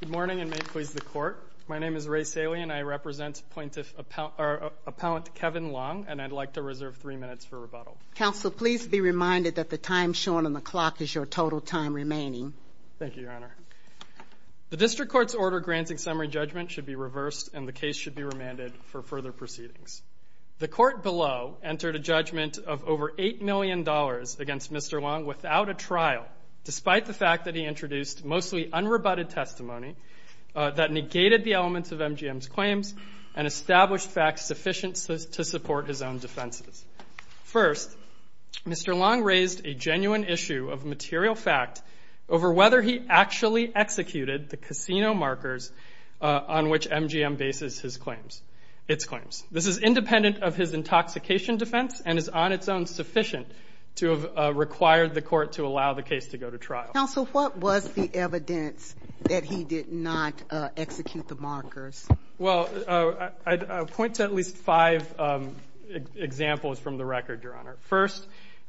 Good morning, and may it please the Court, my name is Ray Salian, I represent Appellant Kevin Long, and I'd like to reserve three minutes for rebuttal. Counsel, please be reminded that the time shown on the clock is your total time remaining. Thank you, Your Honor. The District Court's order granting summary judgment should be reversed, and the case should be remanded for further proceedings. The Court below entered a judgment of over $8 million against Mr. Long without a trial, despite the fact that he introduced mostly unrebutted testimony that negated the elements of MGM's claims and established facts sufficient to support his own defenses. First, Mr. Long raised a genuine issue of material fact over whether he actually executed the casino markers on which MGM bases its claims. This is independent of his intoxication defense, and is on its own sufficient to have required the Court to allow the case to go to trial. Counsel, what was the evidence that he did not execute the markers? Well, I'd point to at least five examples from the record, Your Honor. First,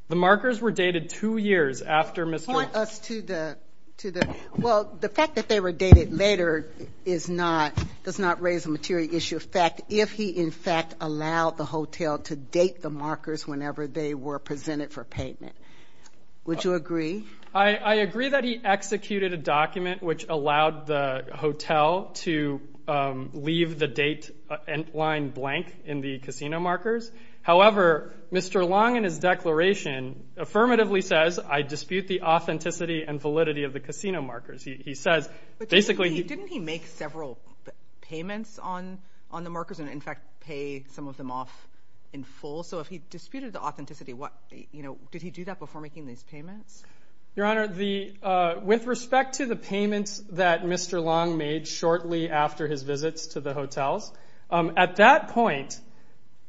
the markers were dated two years after Mr. — Point us to the — well, the fact that they were dated later is not — does not raise a material issue of fact if he, in fact, allowed the hotel to date the markers whenever they were presented for payment. Would you agree? I agree that he executed a document which allowed the hotel to leave the date line blank in the casino markers. However, Mr. Long, in his declaration, affirmatively says, I dispute the authenticity and validity of the casino markers. He says — But didn't he make several payments on the markers and, in fact, pay some of them off in full? So if he disputed the authenticity, what — you know, did he do that before making these payments? Your Honor, the — with respect to the payments that Mr. Long made shortly after his visits to the hotels, at that point,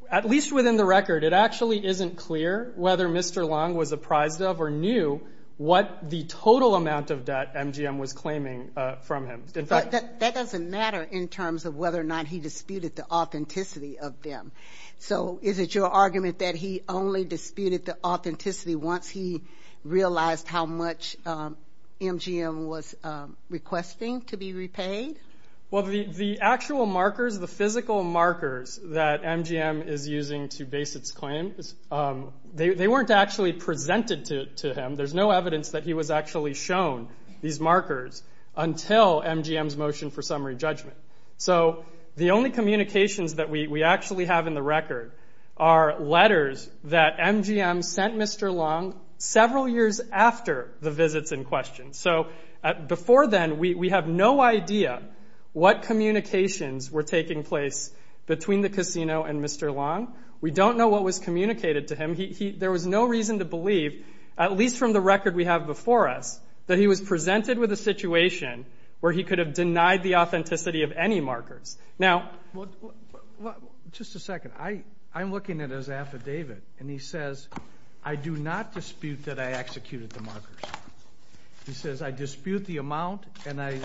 at least within the record, it actually isn't clear whether Mr. Long was apprised of or knew what the total amount of debt MGM was claiming from him. In fact — But that doesn't matter in terms of whether or not he disputed the authenticity of them. So is it your argument that he only disputed the authenticity once he realized how much MGM was requesting to be repaid? Well, the actual markers, the physical markers that MGM is using to base its claims, they weren't actually presented to him. There's no evidence that he was actually shown these markers until MGM's motion for summary judgment. So the only communications that we actually have in the record are letters that MGM sent Mr. Long several years after the visits in question. So before then, we have no idea what communications were taking place between the casino and Mr. Long. We don't know what was communicated to him. There was no reason to believe, at least from the record we have before us, that he was presented with a situation where he could have denied the authenticity of any markers. Now — Well, just a second. I'm looking at his affidavit, and he says, I do not dispute that I executed the markers. He says, I dispute the amount, and I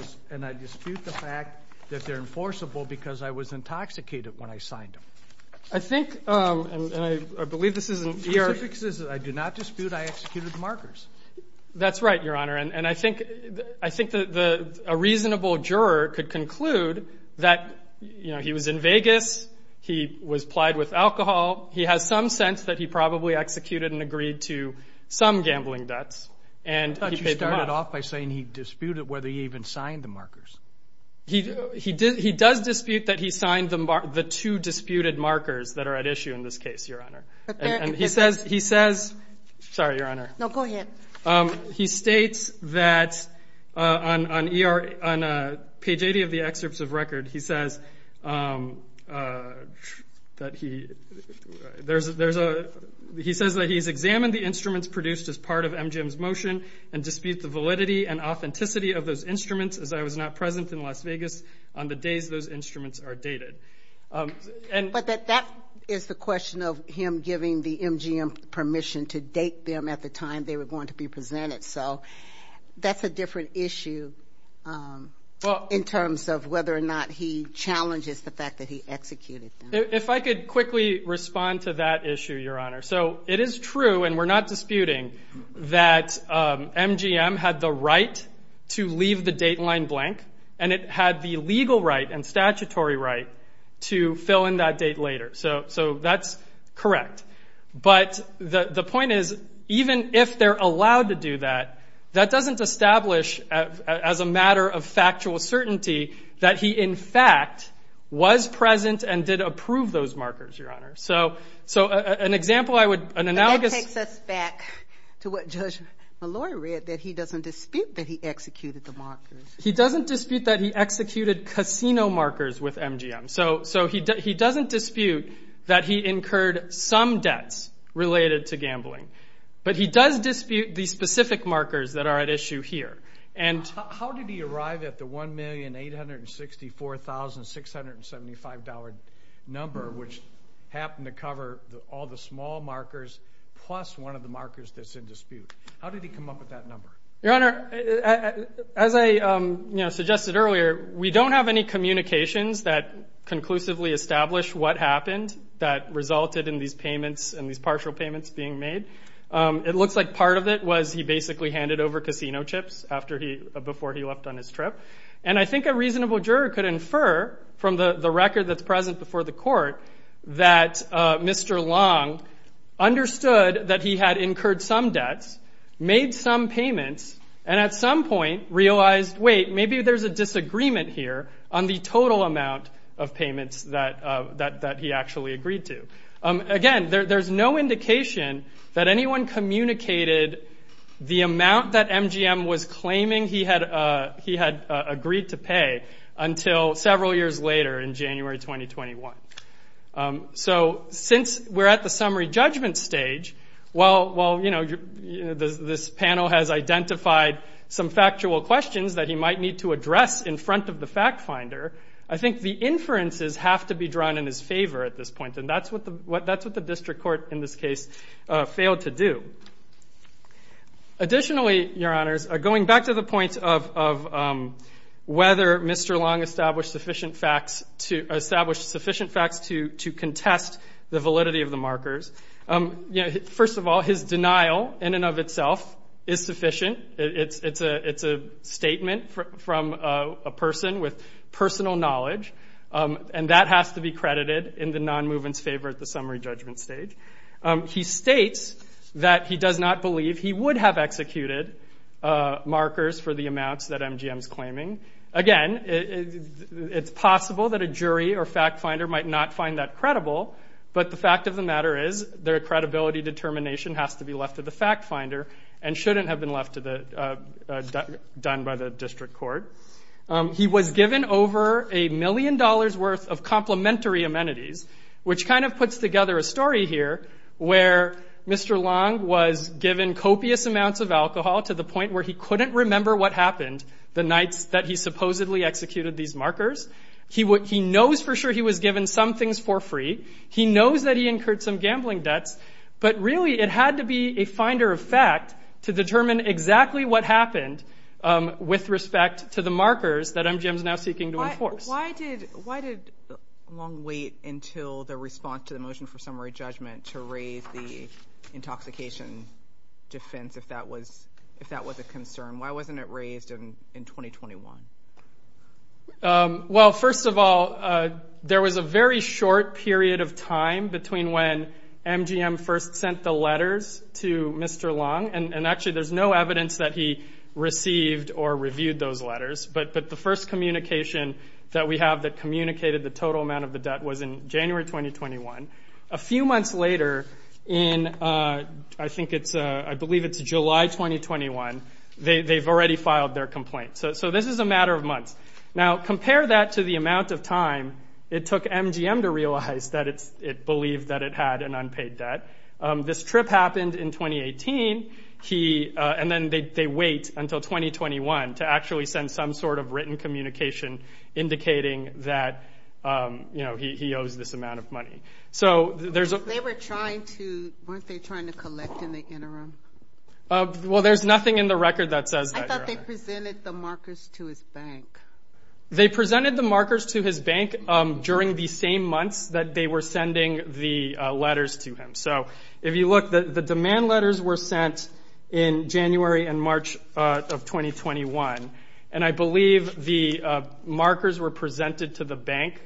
dispute the fact that they're enforceable because I was intoxicated when I signed them. I think — and I believe this is in — The specifics is, I do not dispute I executed the markers. That's right, Your Honor. And I think — I think a reasonable juror could conclude that, you know, he was in Vegas, he was plied with alcohol. He has some sense that he probably executed and agreed to some gambling debts. And he paid them off. I thought you started off by saying he disputed whether he even signed the markers. He does dispute that he signed the two disputed markers that are at issue in this case, Your Honor. And he says — But there — He says — sorry, Your Honor. No, go ahead. He states that on page 80 of the excerpts of record, he says that he — there's a — he says that he's examined the instruments produced as part of MGM's motion and disputes the validity and authenticity of those instruments as I was not present in Las Vegas on the days those instruments are dated. And — But that is the question of him giving the MGM permission to date them at the time they were going to be presented. So that's a different issue in terms of whether or not he challenges the fact that he executed them. If I could quickly respond to that issue, Your Honor. So it is true, and we're not disputing, that MGM had the right to leave the dateline blank, and it had the legal right and statutory right to fill in that date later. So that's correct. But the point is, even if they're allowed to do that, that doesn't establish as a matter of factual certainty that he, in fact, was present and did approve those markers, Your Honor. So an example I would — And that takes us back to what Judge Mallory read, that he doesn't dispute that he executed the markers. He doesn't dispute that he executed casino markers with MGM. So he doesn't dispute that he incurred some debts related to gambling. But he does dispute the specific markers that are at issue here. How did he arrive at the $1,864,675 number, which happened to cover all the small markers plus one of the markers that's in dispute? How did he come up with that number? Your Honor, as I suggested earlier, we don't have any communications that conclusively establish what happened that resulted in these payments and these partial payments being made. It looks like part of it was he basically handed over casino chips before he left on his trip. And I think a reasonable juror could infer from the record that's present before the court that Mr. Long understood that he had incurred some debts, made some payments, and at some point realized, wait, maybe there's a disagreement here on the total amount of payments that he actually agreed to. Again, there's no indication that anyone communicated the amount that MGM was claiming he had agreed to pay until several years later in January 2021. So since we're at the summary judgment stage, while this panel has identified some factual questions that he might need to address in front of the fact finder, I think the inferences have to be drawn in his favor at this point. And that's what the district court in this case failed to do. Additionally, Your Honors, going back to the point of whether Mr. Long established sufficient facts to contest the validity of the markers, first of all, his denial in and of itself is sufficient. It's a statement from a person with personal knowledge, and that has to be credited in the non-movement's favor at the summary judgment stage. He states that he does not believe he would have executed markers for the amounts that MGM's claiming. Again, it's possible that a jury or fact finder might not find that credible, but the fact of the matter is their credibility determination has to be left to the fact finder and shouldn't have been left to the, done by the district court. He was given over a million dollars worth of complimentary amenities, which kind of puts together a story here where Mr. Long was given copious amounts of alcohol to the point where he couldn't remember what happened the night that he supposedly executed these markers. He knows for sure he was given some things for free. He knows that he incurred some gambling debts, but really it had to be a finder of fact to the markers that MGM's now seeking to enforce. Why did Long wait until the response to the motion for summary judgment to raise the intoxication defense if that was a concern? Why wasn't it raised in 2021? Well, first of all, there was a very short period of time between when MGM first sent the letters to Mr. Long, and actually there's no evidence that he received or reviewed those letters, but the first communication that we have that communicated the total amount of the debt was in January 2021. A few months later in, I think it's, I believe it's July 2021, they've already filed their complaint. So this is a matter of months. Now, compare that to the amount of time it took MGM to realize that it believed that it had an unpaid debt. This trip happened in 2018, and then they wait until 2021 to actually send some sort of written communication indicating that he owes this amount of money. So there's a- They were trying to, weren't they trying to collect in the interim? Well, there's nothing in the record that says that. I thought they presented the markers to his bank. They presented the markers to his bank during the same months that they were sending the letters to him. So if you look, the demand letters were sent in January and March of 2021, and I believe the markers were presented to the bank,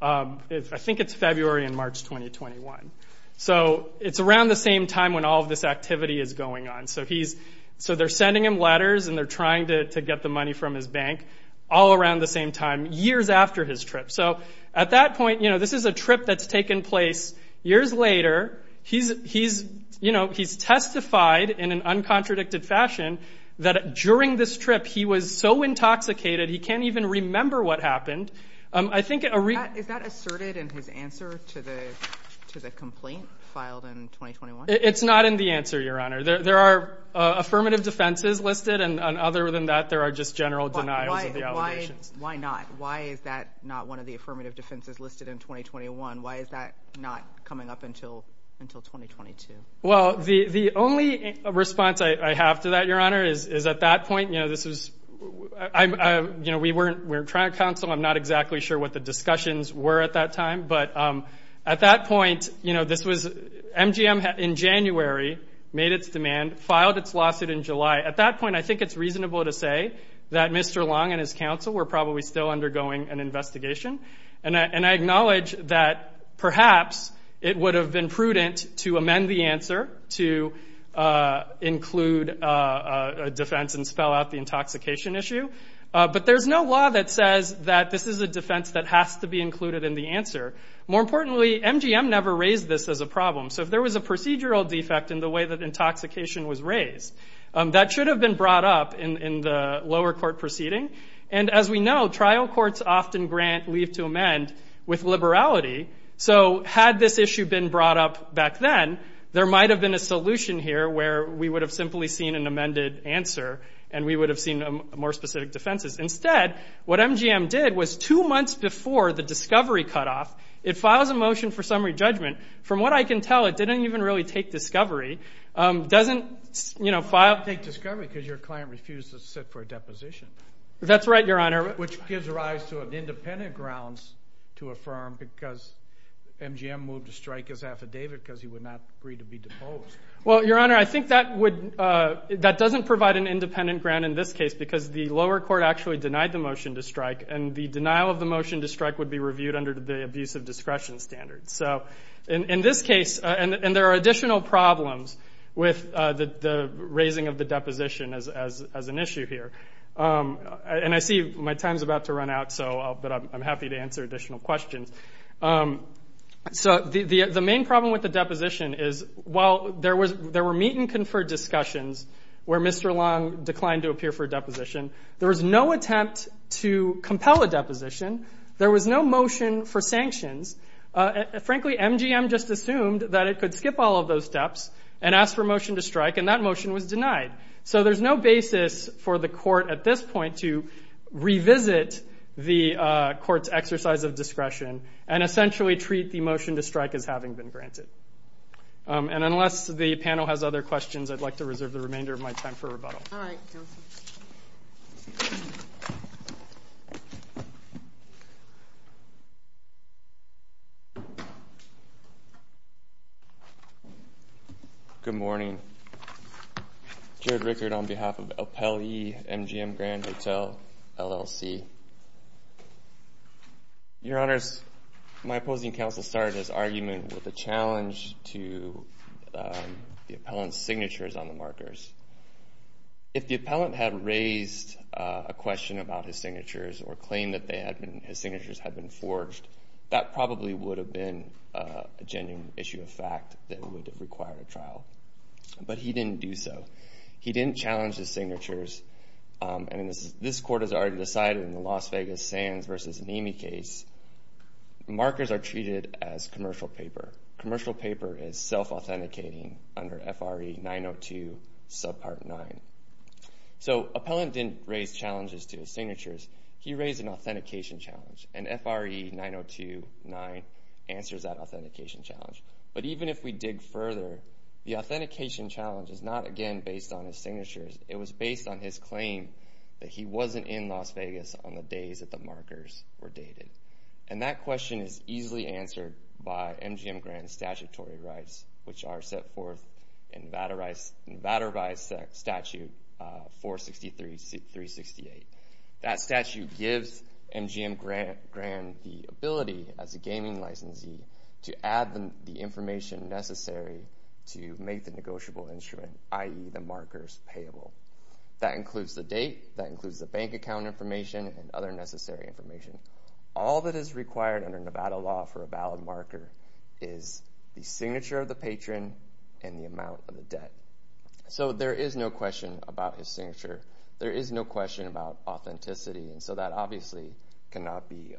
I think it's February and March 2021. So it's around the same time when all of this activity is going on. So he's, so they're sending him letters and they're trying to get the money from his bank all around the same time, years after his trip. So at that point, you know, this is a trip that's taken place years later. He's, you know, he's testified in an uncontradicted fashion that during this trip he was so intoxicated he can't even remember what happened. I think- Is that asserted in his answer to the complaint filed in 2021? It's not in the answer, Your Honor. There are affirmative defenses listed, and other than that, there are just general denials of the allegations. Why not? Why is that not one of the affirmative defenses listed in 2021? Why is that not coming up until 2022? Well, the only response I have to that, Your Honor, is at that point, you know, this was, you know, we were trying to counsel. I'm not exactly sure what the discussions were at that time. But at that point, you know, this was, MGM in January made its demand, filed its lawsuit in July. At that point, I think it's reasonable to say that Mr. Long and his counsel were probably still undergoing an investigation. And I acknowledge that perhaps it would have been prudent to amend the answer to include a defense and spell out the intoxication issue. But there's no law that says that this is a defense that has to be included in the answer. More importantly, MGM never raised this as a problem. So if there was a procedural defect in the way that intoxication was raised, that should have been brought up in the lower court proceeding. And as we know, trial courts often grant leave to amend with liberality. So had this issue been brought up back then, there might have been a solution here where we would have simply seen an amended answer and we would have seen more specific defenses. Instead, what MGM did was two months before the discovery cutoff, it files a motion for summary judgment. From what I can tell, it didn't even really take discovery. Doesn't, you know, file... That's right, Your Honor. Which gives rise to an independent grounds to affirm because MGM moved to strike his affidavit because he would not agree to be deposed. Well, Your Honor, I think that doesn't provide an independent ground in this case because the lower court actually denied the motion to strike. And the denial of the motion to strike would be reviewed under the abuse of discretion standards. So in this case, and there are additional problems with the raising of the deposition as an issue here. And I see my time's about to run out, but I'm happy to answer additional questions. So the main problem with the deposition is while there were meet and confer discussions where Mr. Long declined to appear for a deposition, there was no attempt to compel a deposition. There was no motion for sanctions. Frankly, MGM just assumed that it could skip all of those steps and ask for a motion to strike and that motion was denied. So there's no basis for the court at this point to revisit the court's exercise of discretion and essentially treat the motion to strike as having been granted. And unless the panel has other questions, I'd like to reserve the remainder of my time for rebuttal. All right, Joseph. Good morning. Jared Rickard on behalf of Appellee MGM Grand Hotel, LLC. Your Honors, my opposing counsel started his argument with a challenge to the appellant's signatures on the markers. If the appellant had raised a question about his signatures or claimed that his signatures had been forged, that probably would have been a genuine issue of fact that would require a trial. But he didn't do so. He didn't challenge his signatures. This court has already decided in the Las Vegas Sands versus Nemi case, markers are treated as commercial paper. Commercial paper is self-authenticating under FRE 902 subpart 9. So appellant didn't raise challenges to his signatures. He raised an authentication challenge and FRE 902 9 answers that authentication challenge. But even if we dig further, the authentication challenge is not, again, based on his signatures. It was based on his claim that he wasn't in Las Vegas on the days that the markers were dated. And that question is easily answered by MGM Grand's statutory rights, which are set forth in Vatterby's statute 463-368. That statute gives MGM Grand the ability as a gaming licensee to add the information necessary to make the negotiable instrument, i.e. the markers, payable. That includes the date. That includes the bank account information and other necessary information. All that is required under Nevada law for a valid marker is the signature of the patron and the amount of the debt. So there is no question about his signature. There is no question about authenticity, and so that obviously cannot be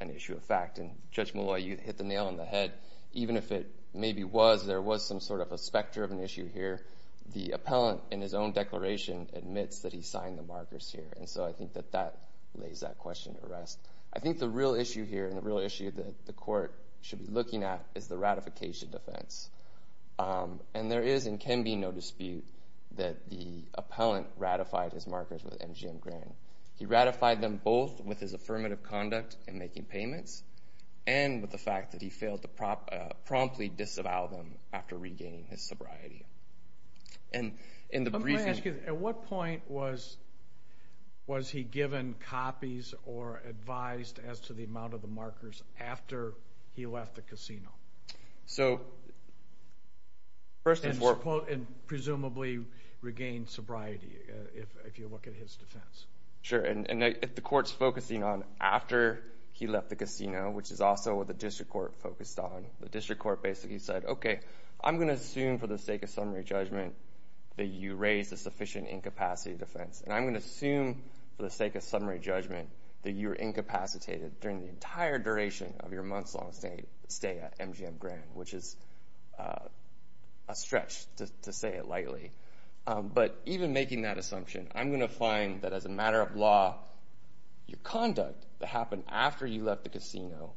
an issue of fact. And Judge Molloy, you hit the nail on the head. Even if it maybe was, there was some sort of a specter of an issue here. The appellant, in his own declaration, admits that he signed the markers here. And so I think that that lays that question to rest. I think the real issue here and the real issue that the court should be looking at is the ratification defense. And there is and can be no dispute that the appellant ratified his markers with MGM Grand. He ratified them both with his affirmative conduct in making payments and with the fact that he failed to promptly disavow them after regaining his sobriety. And in the brief... I'm going to ask you, at what point was he given copies or advised as to the amount of the markers after he left the casino? So, first... And presumably regained sobriety, if you look at his defense. Sure. And if the court's focusing on after he left the casino, which is also what the district court focused on, the district court basically said, okay, I'm going to assume for the sake of summary judgment that you raised a sufficient incapacity defense. And I'm going to assume for the sake of summary judgment that you were incapacitated during the entire duration of your months-long stay at MGM Grand, which is a stretch, to say it lightly. But even making that assumption, I'm going to find that as a matter of law, your conduct that happened after you left the casino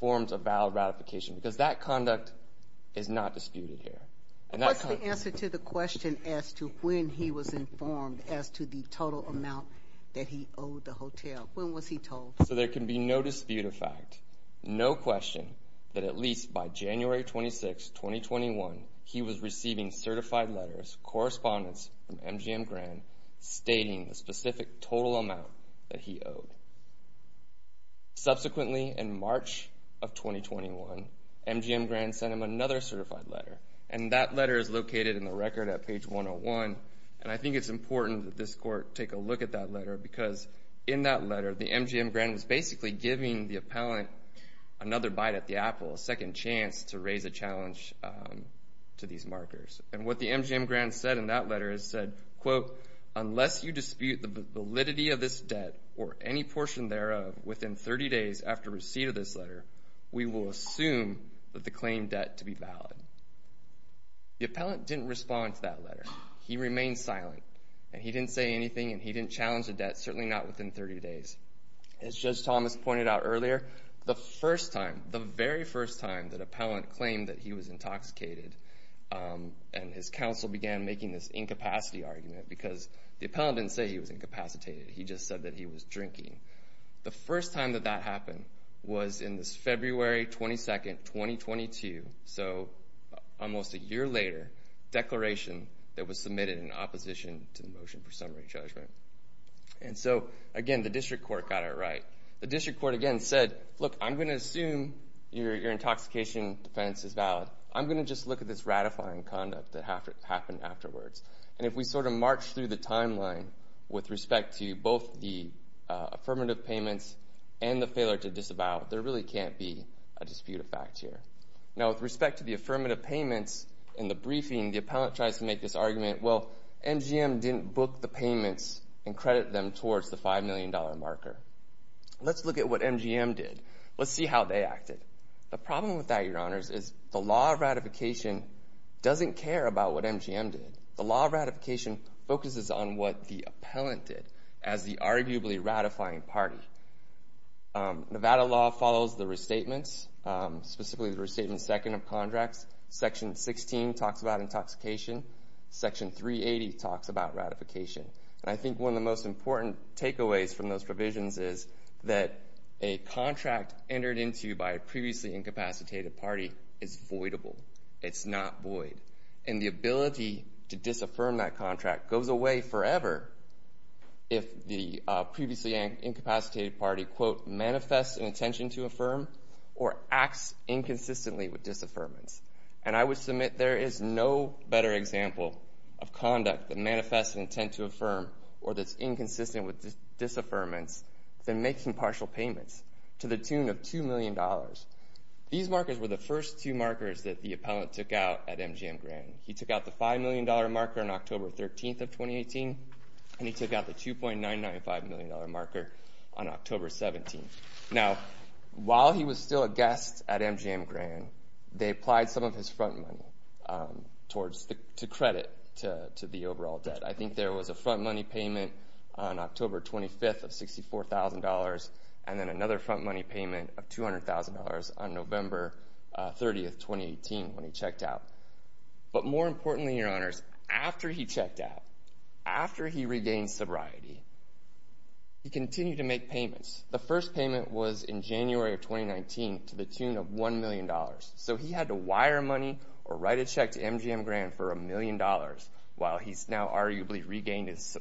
forms a valid ratification, because that conduct is not disputed here. And that... What's the answer to the question as to when he was informed as to the total amount that he owed the hotel? When was he told? So there can be no dispute of fact, no question, that at least by January 26, 2021, he was receiving certified letters, correspondence from MGM Grand, stating the specific total amount that he owed. Subsequently, in March of 2021, MGM Grand sent him another certified letter. And that letter is located in the record at page 101, and I think it's important that this court take a look at that letter, because in that letter, the MGM Grand was basically giving the appellant another bite at the apple, a second chance to raise a challenge to these markers. And what the MGM Grand said in that letter is said, quote, unless you dispute the validity of this debt, or any portion thereof, within 30 days after receipt of this letter, we will assume that the claimed debt to be valid. The appellant didn't respond to that letter. He remained silent. And he didn't say anything, and he didn't challenge the debt, certainly not within 30 days. As Judge Thomas pointed out earlier, the first time, the very first time that appellant claimed that he was intoxicated, and his counsel began making this incapacity argument, because the appellant didn't say he was incapacitated, he just said that he was drinking, the first time that that happened was in this February 22, 2022, so almost a year later, declaration that was submitted in opposition to the motion for summary judgment. And so, again, the district court got it right. The district court, again, said, look, I'm going to assume your intoxication defense is valid. I'm going to just look at this ratifying conduct that happened afterwards. And if we sort of march through the timeline with respect to both the affirmative payments and the failure to disavow, there really can't be a dispute of fact here. Now, with respect to the affirmative payments in the briefing, the appellant tries to make this argument, well, MGM didn't book the payments and credit them towards the $5 million marker. Let's look at what MGM did. Let's see how they acted. The problem with that, Your Honors, is the law of ratification doesn't care about what MGM did. The law of ratification focuses on what the appellant did as the arguably ratifying party. Nevada law follows the restatements, specifically the restatement second of contracts. Section 16 talks about intoxication. Section 380 talks about ratification. I think one of the most important takeaways from those provisions is that a contract entered into by a previously incapacitated party is voidable. It's not void. And the ability to disaffirm that contract goes away forever if the previously incapacitated party, quote, manifests an intention to affirm or acts inconsistently with disaffirmance. And I would submit there is no better example of conduct that manifests an intent to affirm or that's inconsistent with disaffirmance than making partial payments to the tune of $2 million. These markers were the first two markers that the appellant took out at MGM Grand. He took out the $5 million marker on October 13th of 2018, and he took out the $2.995 million marker on October 17th. Now, while he was still a guest at MGM Grand, they applied some of his front money to credit to the overall debt. I think there was a front money payment on October 25th of $64,000 and then another front money payment of $200,000 on November 30th, 2018, when he checked out. But more importantly, your honors, after he checked out, after he regained sobriety, he continued to make payments. The first payment was in January of 2019 to the tune of $1 million. So he had to wire money or write a check to MGM Grand for $1 million while he's now arguably regained his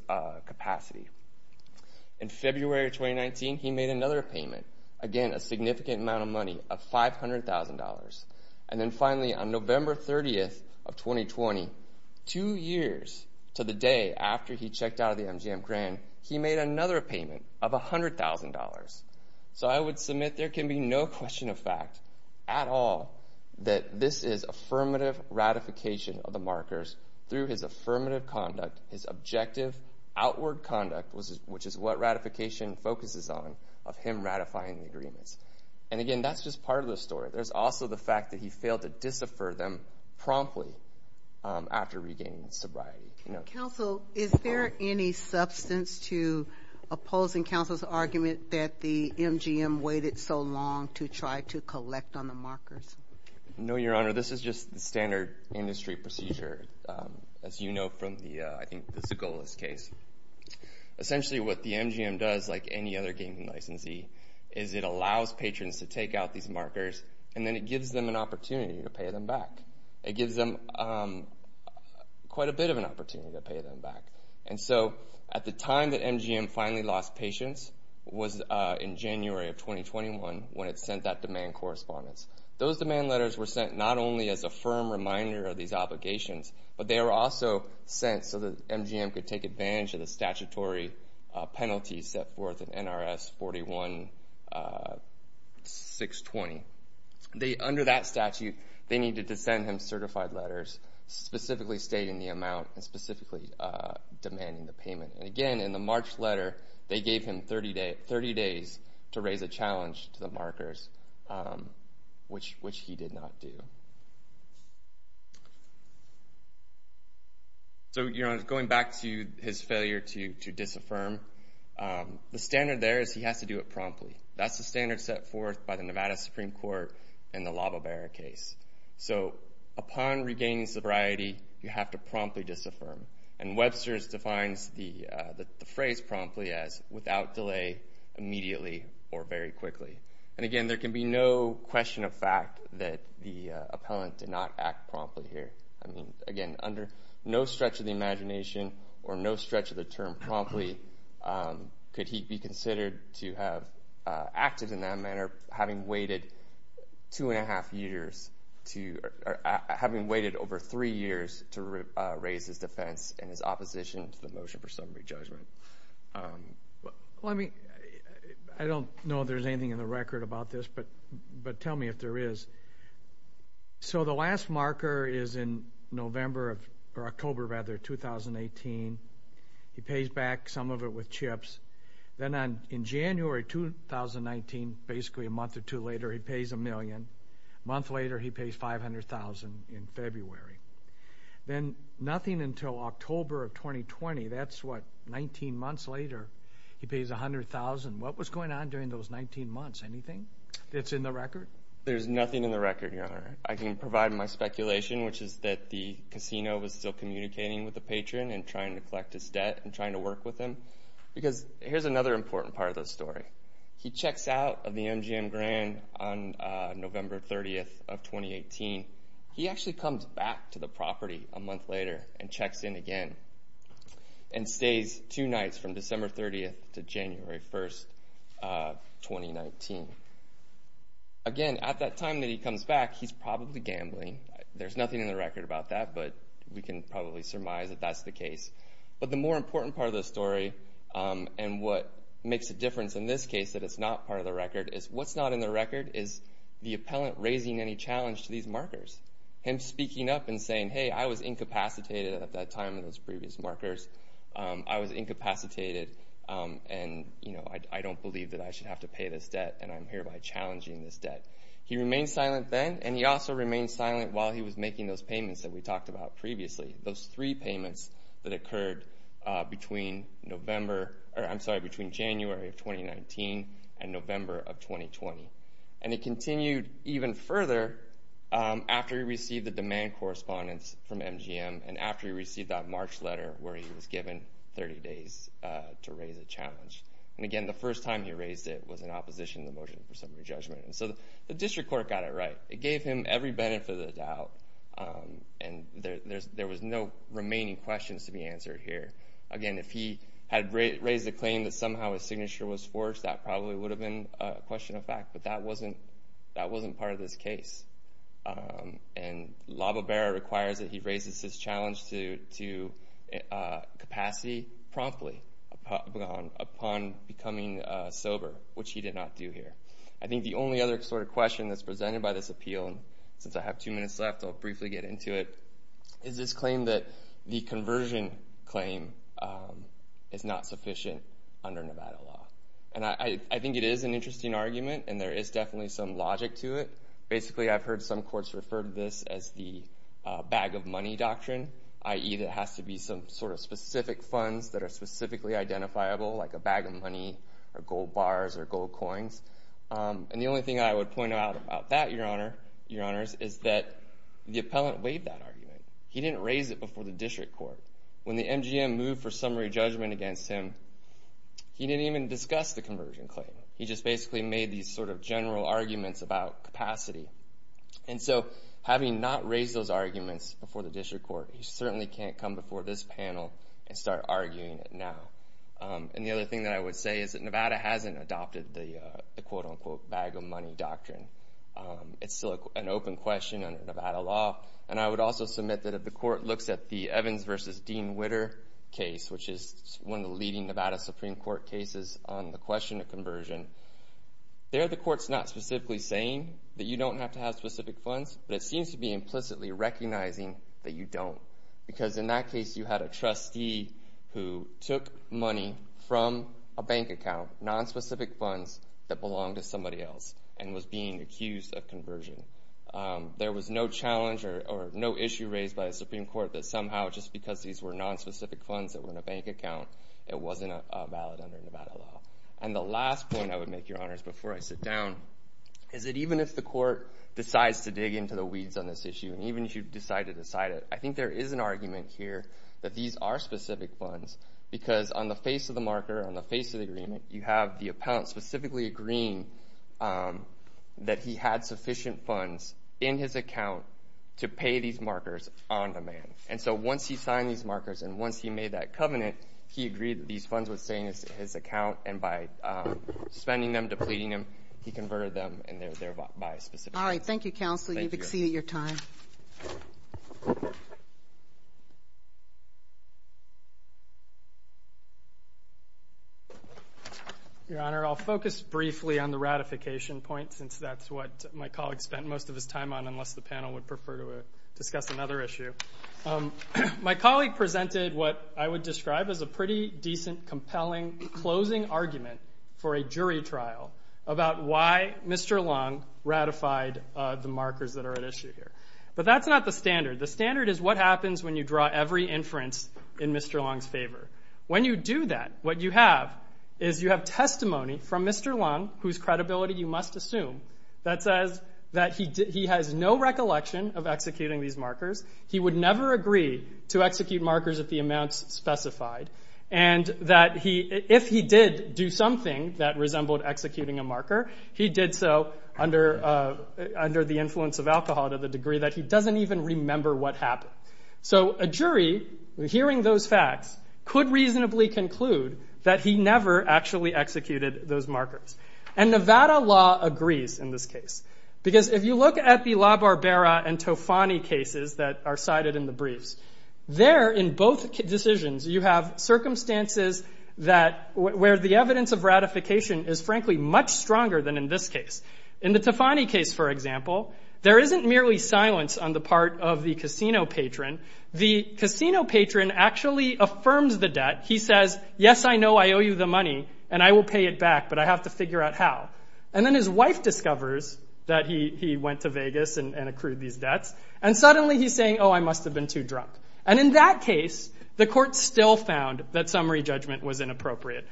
capacity. In February of 2019, he made another payment, again, a significant amount of money of $500,000. And then finally, on November 30th of 2020, two years to the day after he checked out of the MGM Grand, he made another payment of $100,000. So I would submit there can be no question of fact at all that this is affirmative ratification of the markers through his affirmative conduct, his objective outward conduct, which is what ratification focuses on, of him ratifying the agreements. And again, that's just part of the story. There's also the fact that he failed to disaffirm them promptly after regaining sobriety. Counsel, is there any substance to opposing counsel's argument that the MGM waited so long to try to collect on the markers? No, your honor. This is just the standard industry procedure, as you know from the, I think, Zagola's case. Essentially what the MGM does, like any other gaming licensee, is it allows patrons to take out these markers, and then it gives them an opportunity to pay them back. It gives them quite a bit of an opportunity to pay them back. And so at the time that MGM finally lost patience was in January of 2021 when it sent that demand correspondence. Those demand letters were sent not only as a firm reminder of these obligations, but they were also sent so that MGM could take advantage of the statutory penalties set forth in NRS 41-620. Under that statute, they needed to send him certified letters specifically stating the amount and specifically demanding the payment. And again, in the March letter, they gave him 30 days to raise a challenge to the markers, which he did not do. So your honor, going back to his failure to disaffirm, the standard there is he has to do it promptly. That's the standard set forth by the Nevada Supreme Court in the Lava Bear case. So upon regaining sobriety, you have to promptly disaffirm. And Webster's defines the phrase promptly as without delay, immediately, or very quickly. And again, there can be no question of fact that the appellant did not act promptly here. I mean, again, under no stretch of the imagination or no stretch of the term promptly, could he be considered to have acted in that manner having waited two and a half years to, having his defense and his opposition to the motion for summary judgment? I don't know if there's anything in the record about this, but tell me if there is. So the last marker is in November, or October, rather, 2018. He pays back some of it with chips. Then in January 2019, basically a month or two later, he pays a million. Month later, he pays $500,000 in February. Then nothing until October of 2020. That's what, 19 months later, he pays $100,000. What was going on during those 19 months? Anything that's in the record? There's nothing in the record, Your Honor. I can provide my speculation, which is that the casino was still communicating with the patron and trying to collect his debt and trying to work with him. Because here's another important part of the story. He checks out of the MGM grant on November 30th of 2018. He actually comes back to the property a month later and checks in again, and stays two nights from December 30th to January 1st, 2019. Again, at that time that he comes back, he's probably gambling. There's nothing in the record about that, but we can probably surmise that that's the case. But the more important part of the story, and what makes a difference in this case that it's not part of the record, is what's not in the record is the appellant raising any previous markers. Him speaking up and saying, hey, I was incapacitated at that time in those previous markers. I was incapacitated, and I don't believe that I should have to pay this debt, and I'm hereby challenging this debt. He remained silent then, and he also remained silent while he was making those payments that we talked about previously. Those three payments that occurred between January of 2019 and November of 2020. And it continued even further after he received the demand correspondence from MGM, and after he received that March letter where he was given 30 days to raise a challenge. And again, the first time he raised it was in opposition to the motion for summary judgment. And so the district court got it right. It gave him every benefit of the doubt, and there was no remaining questions to be answered here. Again, if he had raised a claim that somehow his signature was forged, that probably would have been a question of fact, but that wasn't part of this case. And La Bobera requires that he raises his challenge to capacity promptly upon becoming sober, which he did not do here. I think the only other sort of question that's presented by this appeal, and since I have two minutes left, I'll briefly get into it, is this claim that the conversion claim is not sufficient under Nevada law. And I think it is an interesting argument, and there is definitely some logic to it. Basically, I've heard some courts refer to this as the bag of money doctrine, i.e. there has to be some sort of specific funds that are specifically identifiable, like a bag of money, or gold bars, or gold coins. And the only thing I would point out about that, Your Honors, is that the appellant weighed that argument. He didn't raise it before the district court. When the MGM moved for summary judgment against him, he didn't even discuss the conversion claim. He just basically made these sort of general arguments about capacity. And so, having not raised those arguments before the district court, he certainly can't come before this panel and start arguing it now. And the other thing that I would say is that Nevada hasn't adopted the quote unquote bag of money doctrine. It's still an open question under Nevada law, and I would also submit that if the court looks at the Evans v. Dean Witter case, which is one of the leading Nevada Supreme Court cases on the question of conversion, there the court's not specifically saying that you don't have to have specific funds, but it seems to be implicitly recognizing that you don't. Because in that case, you had a trustee who took money from a bank account, nonspecific funds that belonged to somebody else, and was being accused of conversion. There was no challenge or no issue raised by the Supreme Court that somehow, just because these were nonspecific funds that were in a bank account, it wasn't valid under Nevada law. And the last point I would make, Your Honors, before I sit down, is that even if the court decides to dig into the weeds on this issue, and even if you decide to decide it, I think there is an argument here that these are specific funds, because on the face of the marker, on the face of the agreement, you have the appellant specifically agreeing that he had sufficient funds in his account to pay these markers on demand. And so once he signed these markers, and once he made that covenant, he agreed that these funds would stay in his account, and by spending them, depleting them, he converted them, and they're there by specific funds. All right. Thank you, Counselor, you've exceeded your time. Your Honor, I'll focus briefly on the ratification point, since that's what my colleague spent most of his time on, unless the panel would prefer to discuss another issue. My colleague presented what I would describe as a pretty decent, compelling, closing argument for a jury trial about why Mr. Long ratified the markers that are at issue here. But that's not the standard. The standard is what happens when you draw every inference in Mr. Long's favor. When you do that, what you have is you have testimony from Mr. Long, whose credibility you must assume, that says that he has no recollection of executing these markers, he would never agree to execute markers at the amounts specified, and that if he did do something that resembled executing a marker, he did so under the influence of alcohol to the degree that he doesn't even remember what happened. So a jury, hearing those facts, could reasonably conclude that he never actually executed those markers. And Nevada law agrees in this case. Because if you look at the La Barbera and Tofani cases that are cited in the briefs, there, in both decisions, you have circumstances where the evidence of ratification is, frankly, much stronger than in this case. In the Tofani case, for example, there isn't merely silence on the part of the casino patron. The casino patron actually affirms the debt. He says, yes, I know I owe you the money, and I will pay it back, but I have to figure out how. And then his wife discovers that he went to Vegas and accrued these debts, and suddenly he's saying, oh, I must have been too drunk. And in that case, the court still found that summary judgment was inappropriate.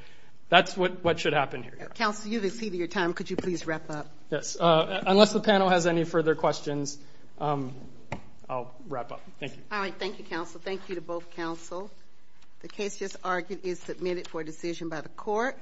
That's what should happen here. Counsel, you've exceeded your time. Could you please wrap up? Yes. Unless the panel has any further questions, I'll wrap up. Thank you. All right. Thank you, counsel. Thank you to both counsel. The case just argued is submitted for decision by the court.